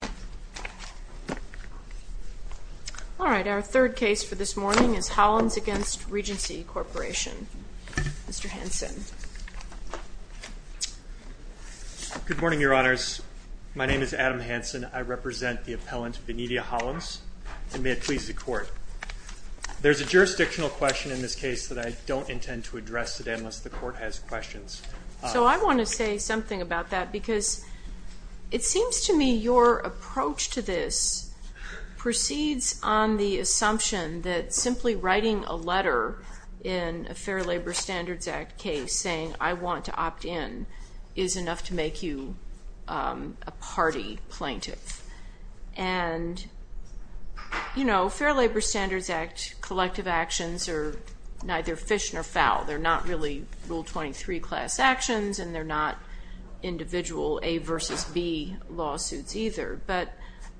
All right, our third case for this morning is Hollins v. Regency Corporation. Mr. Hanson. Good morning, Your Honors. My name is Adam Hanson. I represent the appellant, Venitia Hollins, and may it please the Court. There's a jurisdictional question in this case that I don't intend to address today unless the Court has questions. So I want to say something about that because it seems to me your approach to this proceeds on the assumption that simply writing a letter in a Fair Labor Standards Act case saying, I want to opt in, is enough to make you a party plaintiff. And, you know, Fair Labor Standards Act collective actions are neither fish nor fowl. They're not really Rule 23 class actions, and they're not individual A versus B lawsuits either. But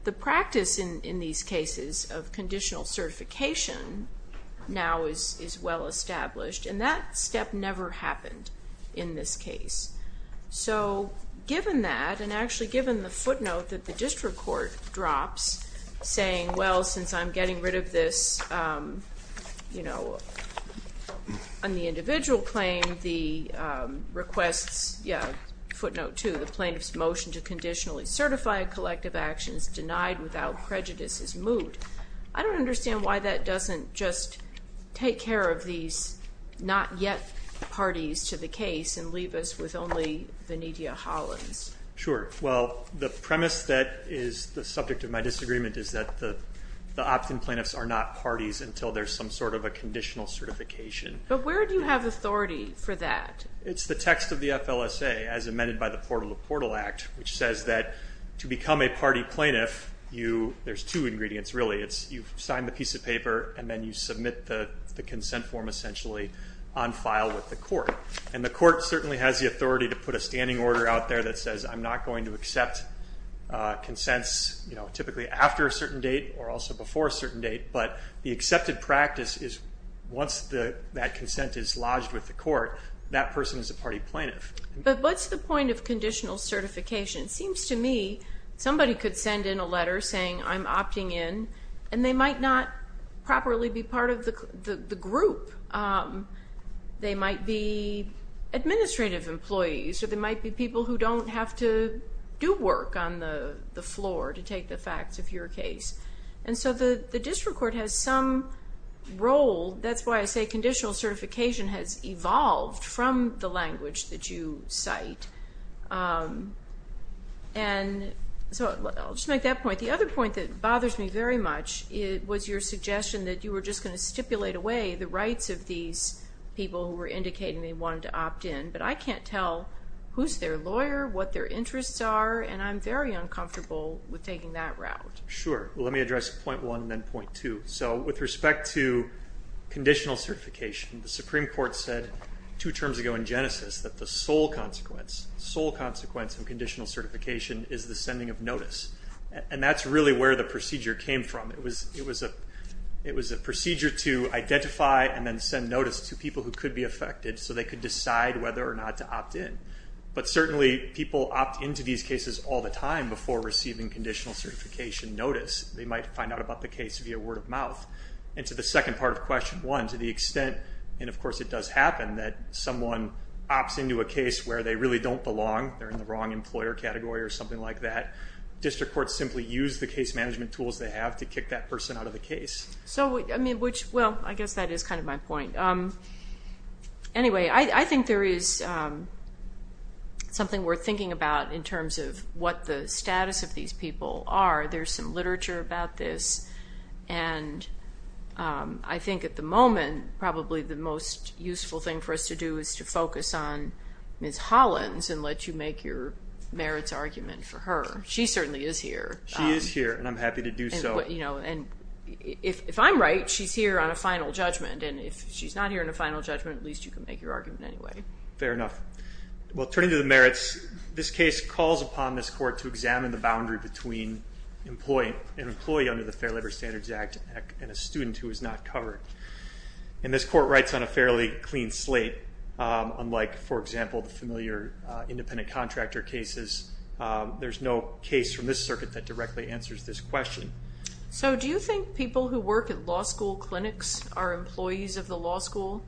the practice in these cases of conditional certification now is well established, and that step never happened in this case. So given that, and actually given the footnote that the district court drops, saying, well, since I'm getting rid of this, you know, on the individual claim, the requests, yeah, footnote two, the plaintiff's motion to conditionally certify a collective action is denied without prejudice is moved. I don't understand why that doesn't just take care of these not yet parties to the case and leave us with only Vanidia Hollins. Sure. Well, the premise that is the subject of my disagreement is that the opt-in plaintiffs are not parties until there's some sort of a conditional certification. But where do you have authority for that? It's the text of the FLSA as amended by the Portal to Portal Act, which says that to become a party plaintiff, you, there's two ingredients really. It's you sign the piece of paper, and then you submit the consent form essentially on file with the court. And the court certainly has the authority to put a standing order out there that says I'm not going to accept consents, you know, typically after a certain date or also before a certain date. But the accepted practice is once that consent is lodged with the court, that person is a party plaintiff. But what's the point of conditional certification? It seems to me somebody could send in a letter saying I'm opting in, and they might not properly be part of the group. They might be administrative employees, or they might be people who don't have to do work on the floor to take the facts of your case. And so the district court has some role. That's why I say conditional certification has evolved from the language that you cite. And so I'll just make that point. The other point that bothers me very much was your suggestion that you were just going to stipulate away the rights of these people who were indicating they wanted to opt in. But I can't tell who's their lawyer, what their interests are, and I'm very uncomfortable with taking that route. Sure. Let me address point one and then point two. So with respect to conditional certification, the Supreme Court said two terms ago in Genesis that the sole consequence of conditional certification is the sending of notice. And that's really where the procedure came from. It was a procedure to identify and then send notice to people who could be affected so they could decide whether or not to opt in. But certainly people opt into these cases all the time before receiving conditional certification notice. They might find out about the case via word of mouth. And to the second part of question one, to the extent, and of course it does happen, that someone opts into a case where they really don't belong, they're in the wrong employer category or something like that, district courts simply use the case management tools they have to kick that person out of the case. Well, I guess that is kind of my point. Anyway, I think there is something worth thinking about in terms of what the status of these people are. There's some literature about this, and I think at the moment probably the most useful thing for us to do is to focus on Ms. Hollins and let you make your merits argument for her. She certainly is here. She is here, and I'm happy to do so. If I'm right, she's here on a final judgment, and if she's not here on a final judgment, at least you can make your argument anyway. Fair enough. Well, turning to the merits, this case calls upon this court to examine the boundary between an employee under the Fair Labor Standards Act and a student who is not covered. And this court writes on a fairly clean slate, unlike, for example, the familiar independent contractor cases. There's no case from this circuit that directly answers this question. So do you think people who work at law school clinics are employees of the law school?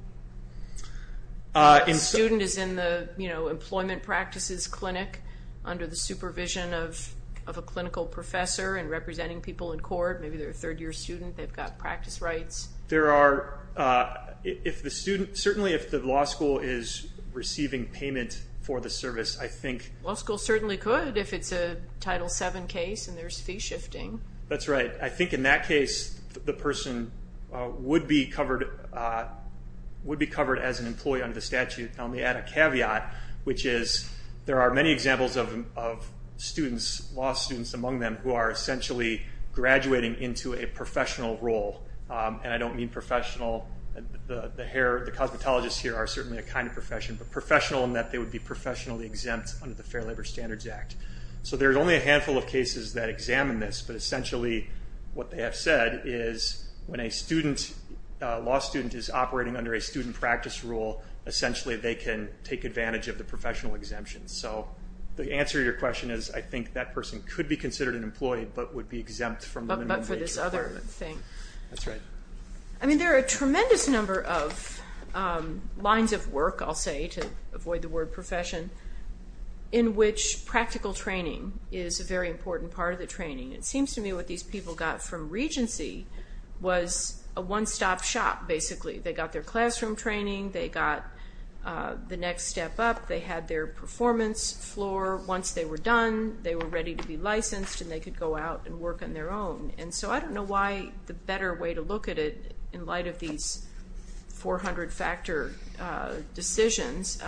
A student is in the employment practices clinic under the supervision of a clinical professor and representing people in court. Maybe they're a third-year student. They've got practice rights. Certainly if the law school is receiving payment for the service, I think… The law school certainly could if it's a Title VII case and there's fee shifting. That's right. I think in that case, the person would be covered as an employee under the statute. Now, let me add a caveat, which is there are many examples of students, law students among them, who are essentially graduating into a professional role. And I don't mean professional. The cosmetologists here are certainly a kind of profession, but professional in that they would be professionally exempt under the Fair Labor Standards Act. So there's only a handful of cases that examine this, but essentially what they have said is when a law student is operating under a student practice rule, essentially they can take advantage of the professional exemption. So the answer to your question is I think that person could be considered an employee but would be exempt from the minimum wage requirement. But for this other thing. That's right. I mean, there are a tremendous number of lines of work, I'll say, to avoid the word profession, in which practical training is a very important part of the training. It seems to me what these people got from Regency was a one-stop shop, basically. They got their classroom training. They got the next step up. They had their performance floor. Once they were done, they were ready to be licensed and they could go out and work on their own. And so I don't know why the better way to look at it in light of these 400-factor decisions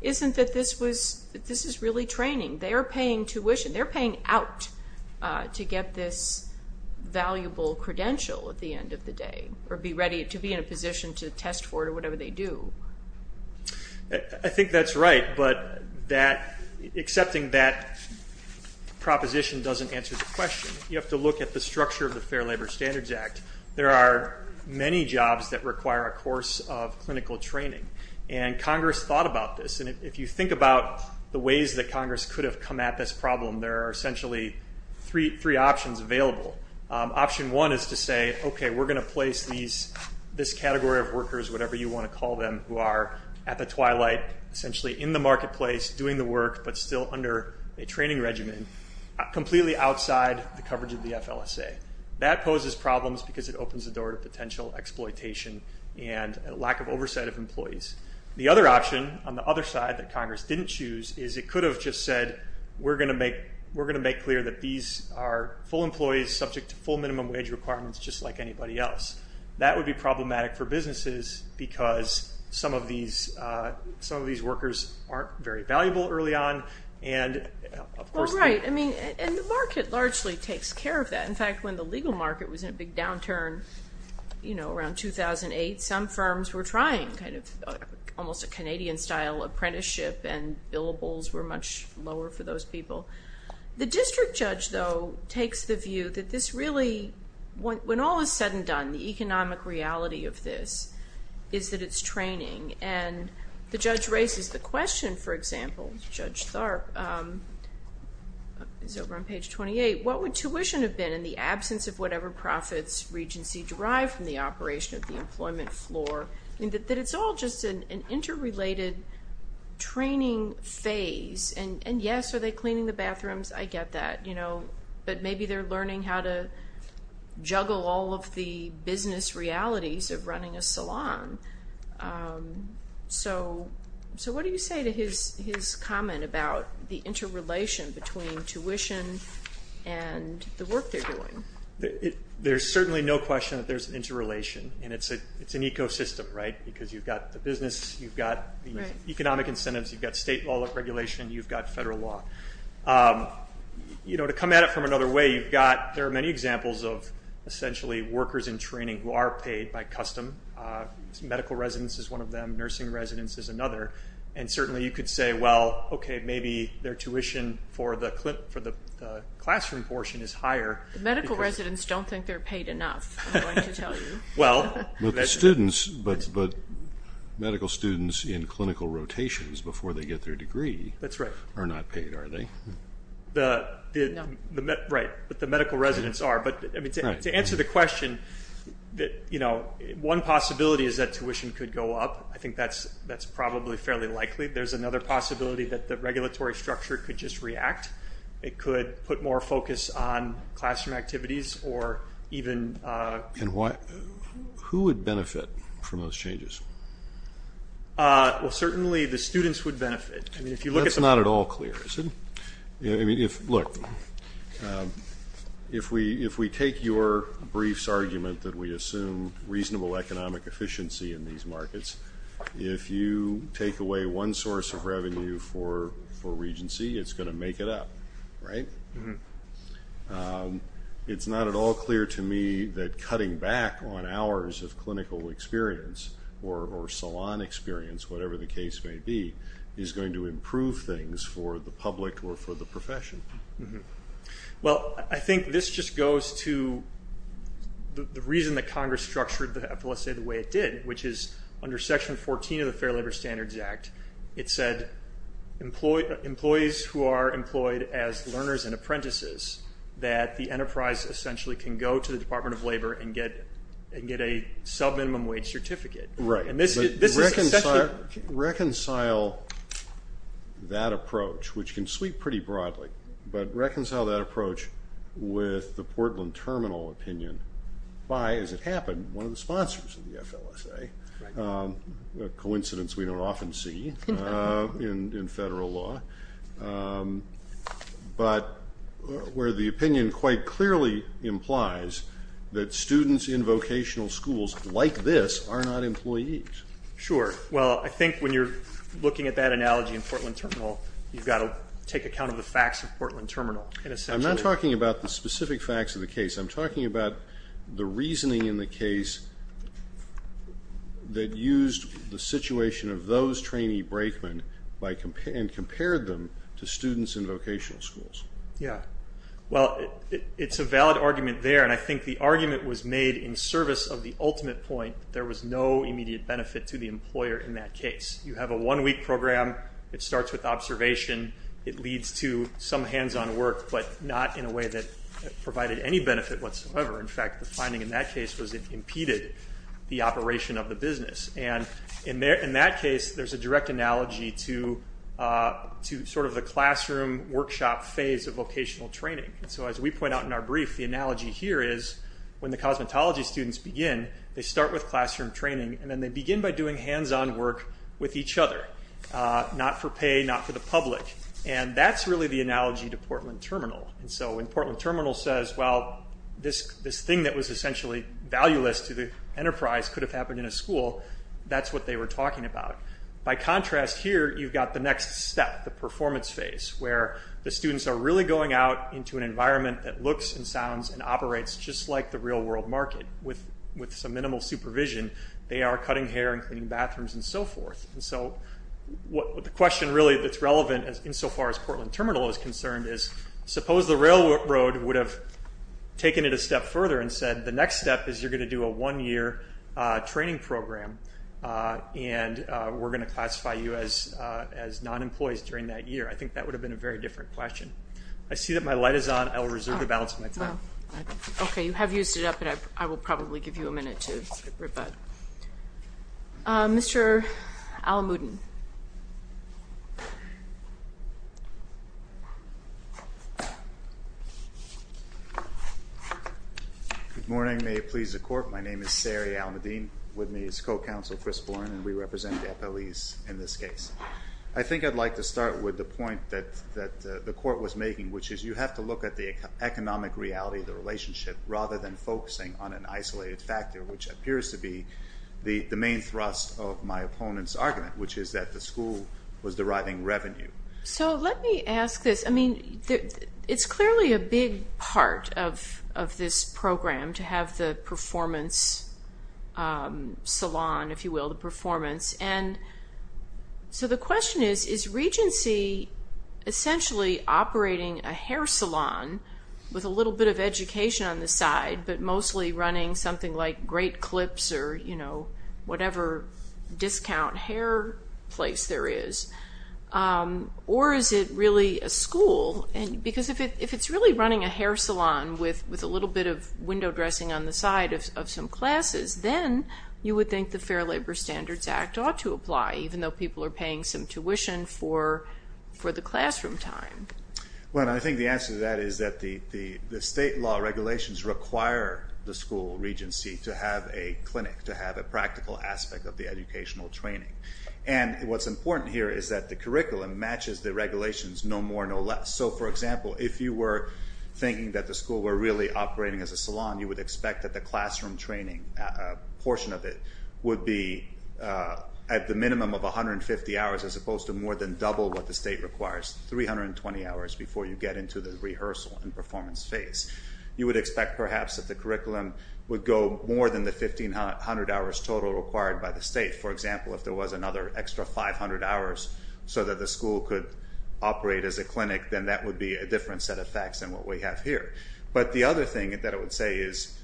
isn't that this is really training. They are paying tuition. They're paying out to get this valuable credential at the end of the day or to be in a position to test for it or whatever they do. I think that's right, but accepting that proposition doesn't answer the question. You have to look at the structure of the Fair Labor Standards Act. There are many jobs that require a course of clinical training, and Congress thought about this. And if you think about the ways that Congress could have come at this problem, there are essentially three options available. Option one is to say, okay, we're going to place this category of workers, whatever you want to call them, who are at the twilight essentially in the marketplace doing the work but still under a training regimen, completely outside the coverage of the FLSA. That poses problems because it opens the door to potential exploitation and a lack of oversight of employees. The other option on the other side that Congress didn't choose is it could have just said, we're going to make clear that these are full employees subject to full minimum wage requirements just like anybody else. That would be problematic for businesses because some of these workers aren't very valuable early on. Well, right. And the market largely takes care of that. In fact, when the legal market was in a big downturn around 2008, some firms were trying kind of almost a Canadian-style apprenticeship, and billables were much lower for those people. The district judge, though, takes the view that this really, when all is said and done, the economic reality of this is that it's training, and the judge raises the question, for example, Judge Tharp is over on page 28. What would tuition have been in the absence of whatever profits Regency derived from the operation of the employment floor? That it's all just an interrelated training phase. And yes, are they cleaning the bathrooms? I get that. But maybe they're learning how to juggle all of the business realities of running a salon. So what do you say to his comment about the interrelation between tuition and the work they're doing? There's certainly no question that there's an interrelation, and it's an ecosystem, right? Because you've got the business. You've got economic incentives. You've got state law and regulation. You've got federal law. You know, to come at it from another way, there are many examples of essentially workers in training who are paid by custom. Medical residence is one of them. Nursing residence is another. And certainly you could say, well, okay, maybe their tuition for the classroom portion is higher. The medical residents don't think they're paid enough, I'm going to tell you. Well, but medical students in clinical rotations before they get their degree are not paid, are they? No. Right. But the medical residents are. But, I mean, to answer the question, you know, one possibility is that tuition could go up. I think that's probably fairly likely. There's another possibility that the regulatory structure could just react. It could put more focus on classroom activities or even. And who would benefit from those changes? Well, certainly the students would benefit. That's not at all clear, is it? I mean, look, if we take your brief's argument that we assume reasonable economic efficiency in these markets, if you take away one source of revenue for regency, it's going to make it up, right? It's not at all clear to me that cutting back on hours of clinical experience or salon experience, whatever the case may be, is going to improve things for the public or for the profession. Well, I think this just goes to the reason that Congress structured the FLSA the way it did, which is under Section 14 of the Fair Labor Standards Act, it said employees who are employed as learners and apprentices, that the enterprise essentially can go to the Department of Labor and get a subminimum wage certificate. Right. Reconcile that approach, which can sweep pretty broadly, but reconcile that approach with the Portland Terminal opinion by, as it happened, one of the sponsors of the FLSA, a coincidence we don't often see in federal law, but where the opinion quite clearly implies that students in vocational schools like this are not employees. Sure. Well, I think when you're looking at that analogy in Portland Terminal, you've got to take account of the facts of Portland Terminal. I'm not talking about the specific facts of the case. I'm talking about the reasoning in the case that used the situation of those trainee brakemen and compared them to students in vocational schools. Yeah. Well, it's a valid argument there, and I think the argument was made in service of the ultimate point, that there was no immediate benefit to the employer in that case. You have a one-week program. It starts with observation. It leads to some hands-on work, but not in a way that provided any benefit whatsoever. In fact, the finding in that case was it impeded the operation of the business. And in that case, there's a direct analogy to sort of the classroom workshop phase of vocational training. And so as we point out in our brief, the analogy here is when the cosmetology students begin, they start with classroom training, and then they begin by doing hands-on work with each other, not for pay, not for the public, and that's really the analogy to Portland Terminal. And so when Portland Terminal says, well, this thing that was essentially valueless to the enterprise could have happened in a school, that's what they were talking about. By contrast here, you've got the next step, the performance phase, where the students are really going out into an environment that looks and sounds and operates just like the real-world market with some minimal supervision. They are cutting hair and cleaning bathrooms and so forth. And so the question really that's relevant insofar as Portland Terminal is concerned is, suppose the railroad would have taken it a step further and said, the next step is you're going to do a one-year training program and we're going to classify you as non-employees during that year. I think that would have been a very different question. I see that my light is on. I will reserve the balance of my time. Okay. You have used it up, and I will probably give you a minute to rebut. Mr. Alamudin. Good morning. May it please the Court, my name is Sari Alamudin. With me is co-counsel Chris Bourne, and we represent the FLEs in this case. I think I'd like to start with the point that the Court was making, which is you have to look at the economic reality of the relationship rather than focusing on an isolated factor, which appears to be the main thrust of my opponent's argument, which is that the school was deriving revenue. So let me ask this. I mean, it's clearly a big part of this program to have the performance salon, if you will, the performance. And so the question is, is Regency essentially operating a hair salon with a little bit of education on the side, but mostly running something like Great Clips or whatever discount hair place there is? Or is it really a school? Because if it's really running a hair salon with a little bit of window dressing on the side of some classes, then you would think the Fair Labor Standards Act ought to apply, even though people are paying some tuition for the classroom time. Well, I think the answer to that is that the state law regulations require the school, Regency, to have a clinic, to have a practical aspect of the educational training. And what's important here is that the curriculum matches the regulations no more, no less. So, for example, if you were thinking that the school were really operating as a salon, you would expect that the classroom training portion of it would be at the minimum of 150 hours, as opposed to more than double what the state requires, 320 hours, before you get into the rehearsal and performance phase. You would expect, perhaps, that the curriculum would go more than the 1,500 hours total required by the state. For example, if there was another extra 500 hours so that the school could operate as a clinic, then that would be a different set of facts than what we have here. But the other thing that I would say is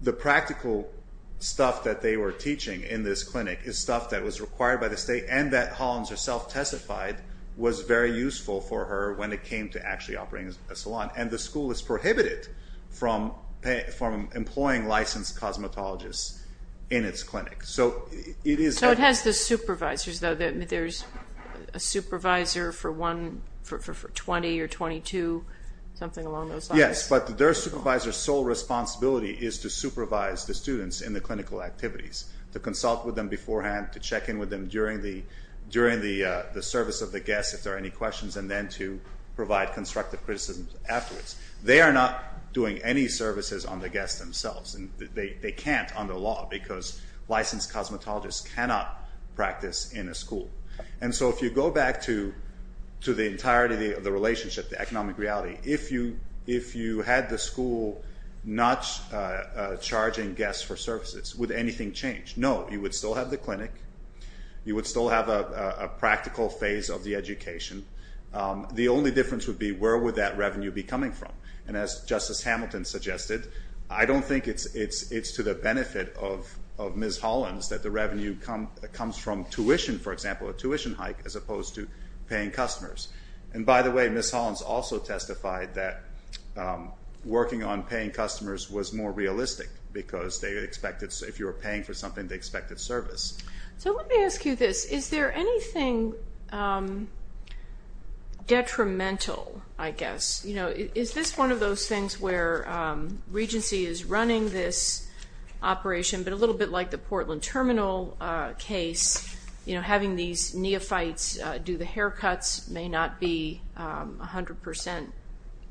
the practical stuff that they were teaching in this clinic is stuff that was required by the state and that Hollins herself testified was very useful for her when it came to actually operating as a salon. And the school is prohibited from employing licensed cosmetologists in its clinic. So it has the supervisors, though. There's a supervisor for 20 or 22, something along those lines. Yes, but their supervisor's sole responsibility is to supervise the students in the clinical activities, to consult with them beforehand, to check in with them during the service of the guests if there are any questions, and then to provide constructive criticism afterwards. They are not doing any services on the guests themselves. They can't under law because licensed cosmetologists cannot practice in a school. So if you go back to the entirety of the relationship, the economic reality, if you had the school not charging guests for services, would anything change? No, you would still have the clinic. You would still have a practical phase of the education. The only difference would be where would that revenue be coming from. And as Justice Hamilton suggested, I don't think it's to the benefit of Ms. Hollins that the revenue comes from tuition, for example, a tuition hike, as opposed to paying customers. And by the way, Ms. Hollins also testified that working on paying customers was more realistic because if you were paying for something, they expected service. So let me ask you this. Is there anything detrimental, I guess? Is this one of those things where Regency is running this operation, but a little bit like the Portland Terminal case, having these neophytes do the haircuts may not be 100%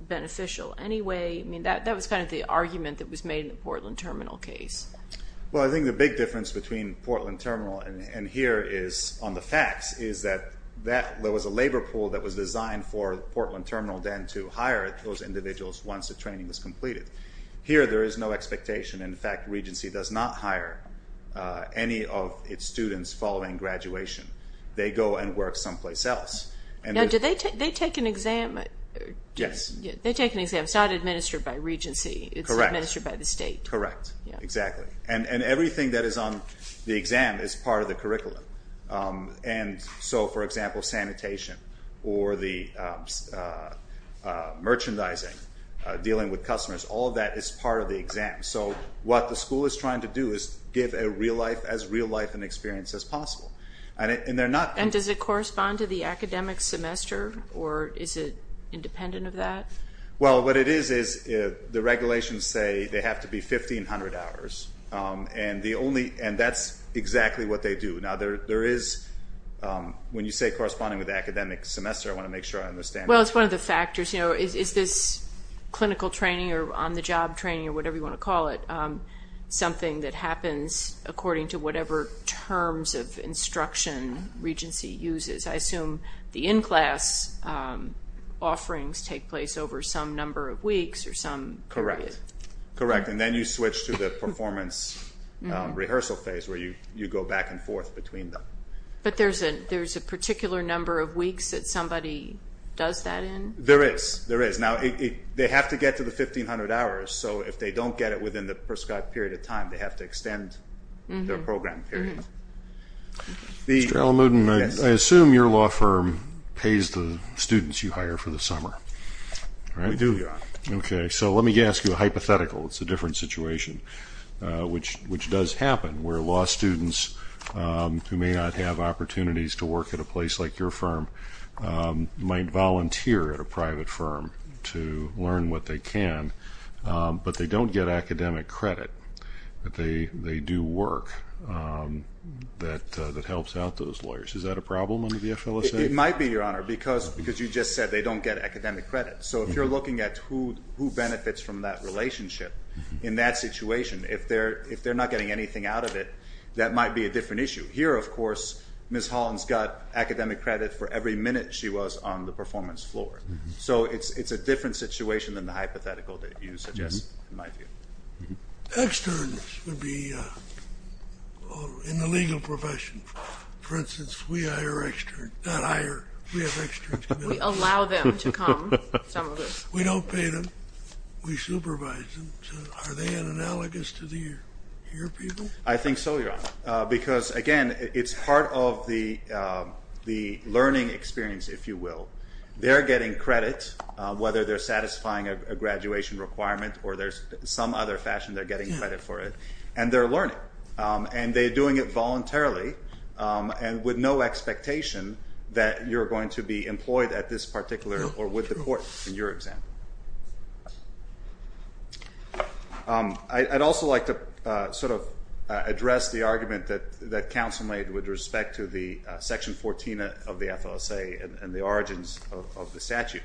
beneficial anyway. That was kind of the argument that was made in the Portland Terminal case. Well, I think the big difference between Portland Terminal and here on the facts is that there was a labor pool that was designed for Portland Terminal then to hire those individuals once the training was completed. Here there is no expectation. In fact, Regency does not hire any of its students following graduation. They go and work someplace else. Now, do they take an exam? Yes. They take an exam. It's not administered by Regency. Correct. It's administered by the state. Correct. Exactly. And everything that is on the exam is part of the curriculum. And so, for example, sanitation or the merchandising, dealing with customers, all of that is part of the exam. So what the school is trying to do is give as real life an experience as possible. And does it correspond to the academic semester, or is it independent of that? Well, what it is is the regulations say they have to be 1,500 hours, and that's exactly what they do. Now, when you say corresponding with the academic semester, I want to make sure I understand. Well, it's one of the factors. Sometimes, you know, is this clinical training or on-the-job training or whatever you want to call it, something that happens according to whatever terms of instruction Regency uses? I assume the in-class offerings take place over some number of weeks or some period. Correct. And then you switch to the performance rehearsal phase where you go back and forth between them. But there's a particular number of weeks that somebody does that in? There is. Now, they have to get to the 1,500 hours, so if they don't get it within the prescribed period of time, they have to extend their program period. Mr. Alamudin, I assume your law firm pays the students you hire for the summer, right? We do, Your Honor. Okay. So let me ask you a hypothetical. It's a different situation, which does happen, where law students who may not have opportunities to work at a place like your firm might volunteer at a private firm to learn what they can, but they don't get academic credit, but they do work that helps out those lawyers. Is that a problem under the FLSA? It might be, Your Honor, because you just said they don't get academic credit. So if you're looking at who benefits from that relationship in that situation, if they're not getting anything out of it, that might be a different issue. Here, of course, Ms. Holland's got academic credit for every minute she was on the performance floor. So it's a different situation than the hypothetical that you suggest, in my view. Externs would be in the legal profession. For instance, we hire externs. Not hire. We have externs. We allow them to come. We don't pay them. Are they analogous to the here people? I think so, Your Honor, because, again, it's part of the learning experience, if you will. They're getting credit, whether they're satisfying a graduation requirement or there's some other fashion they're getting credit for it, and they're learning, and they're doing it voluntarily and with no expectation that you're going to be employed at this particular or with the court, in your example. I'd also like to sort of address the argument that counsel made with respect to the Section 14 of the FLSA and the origins of the statute.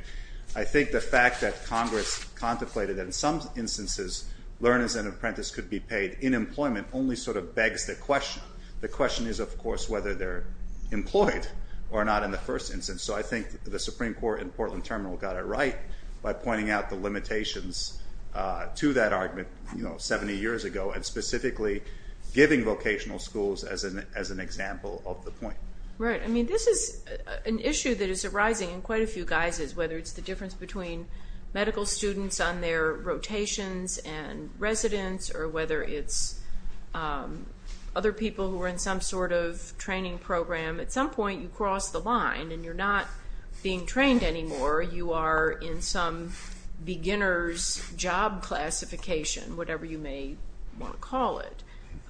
I think the fact that Congress contemplated that in some instances learners and apprentices could be paid in employment only sort of begs the question. The question is, of course, whether they're employed or not in the first instance. So I think the Supreme Court in Portland Terminal got it right, by pointing out the limitations to that argument 70 years ago and specifically giving vocational schools as an example of the point. Right. I mean, this is an issue that is arising in quite a few guises, whether it's the difference between medical students on their rotations and residents, or whether it's other people who are in some sort of training program. At some point you cross the line, and you're not being trained anymore. You are in some beginner's job classification, whatever you may want to call it.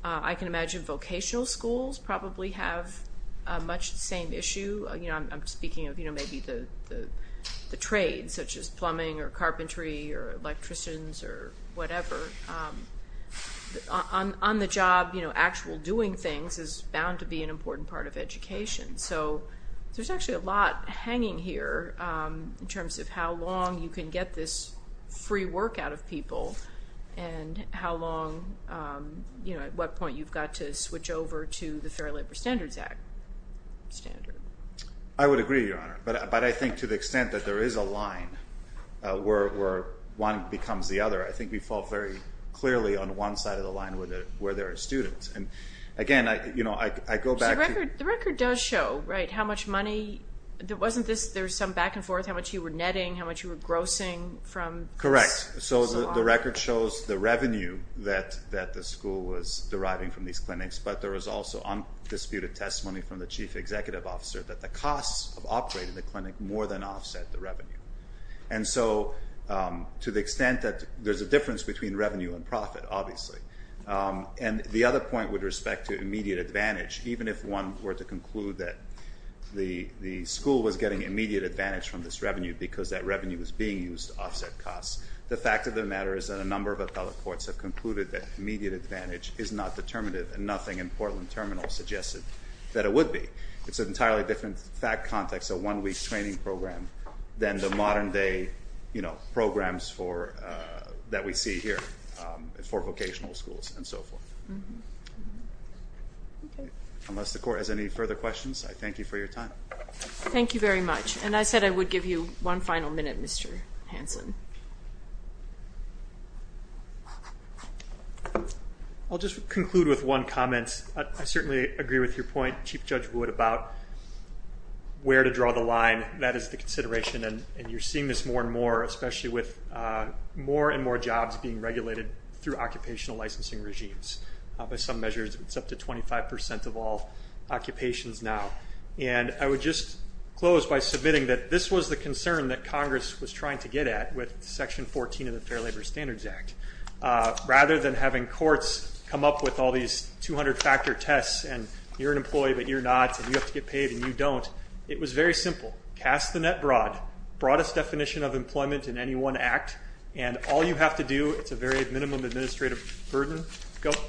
I can imagine vocational schools probably have much the same issue. I'm speaking of maybe the trade, such as plumbing or carpentry or electricians or whatever. On the job, actual doing things is bound to be an important part of education. So there's actually a lot hanging here in terms of how long you can get this free work out of people and at what point you've got to switch over to the Fair Labor Standards Act standard. I would agree, Your Honor. But I think to the extent that there is a line where one becomes the other, I think we fall very clearly on one side of the line where there are students. Again, I go back to... The record does show how much money. Wasn't there some back and forth, how much you were netting, how much you were grossing? Correct. So the record shows the revenue that the school was deriving from these clinics, but there was also undisputed testimony from the chief executive officer that the costs of operating the clinic more than offset the revenue. So to the extent that there's a difference between revenue and profit, obviously. And the other point with respect to immediate advantage, even if one were to conclude that the school was getting immediate advantage from this revenue because that revenue was being used to offset costs, the fact of the matter is that a number of appellate courts have concluded that immediate advantage is not determinative and nothing in Portland Terminal suggested that it would be. It's an entirely different fact context, a one-week training program, than the modern day programs that we see here for vocational schools and so forth. Unless the court has any further questions, I thank you for your time. Thank you very much. And I said I would give you one final minute, Mr. Hanson. I'll just conclude with one comment. I certainly agree with your point, Chief Judge Wood, about where to draw the line. That is the consideration, and you're seeing this more and more, especially with more and more jobs being regulated through occupational licensing regimes. By some measures, it's up to 25 percent of all occupations now. And I would just close by submitting that this was the concern that Congress was trying to get at with Section 14 of the Fair Labor Standards Act. Rather than having courts come up with all these 200-factor tests and you're an employee but you're not and you have to get paid and you don't, it was very simple, cast the net broad, broadest definition of employment in any one act, and all you have to do, it's a very minimum administrative burden,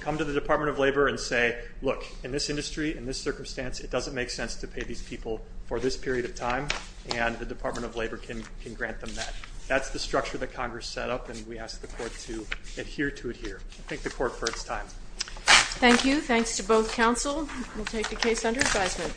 come to the Department of Labor and say, look, in this industry, in this circumstance, it doesn't make sense to pay these people for this period of time, and the Department of Labor can grant them that. That's the structure that Congress set up, and we ask the court to adhere to it here. I thank the court for its time. Thank you. Thanks to both counsel. We'll take the case under advisement.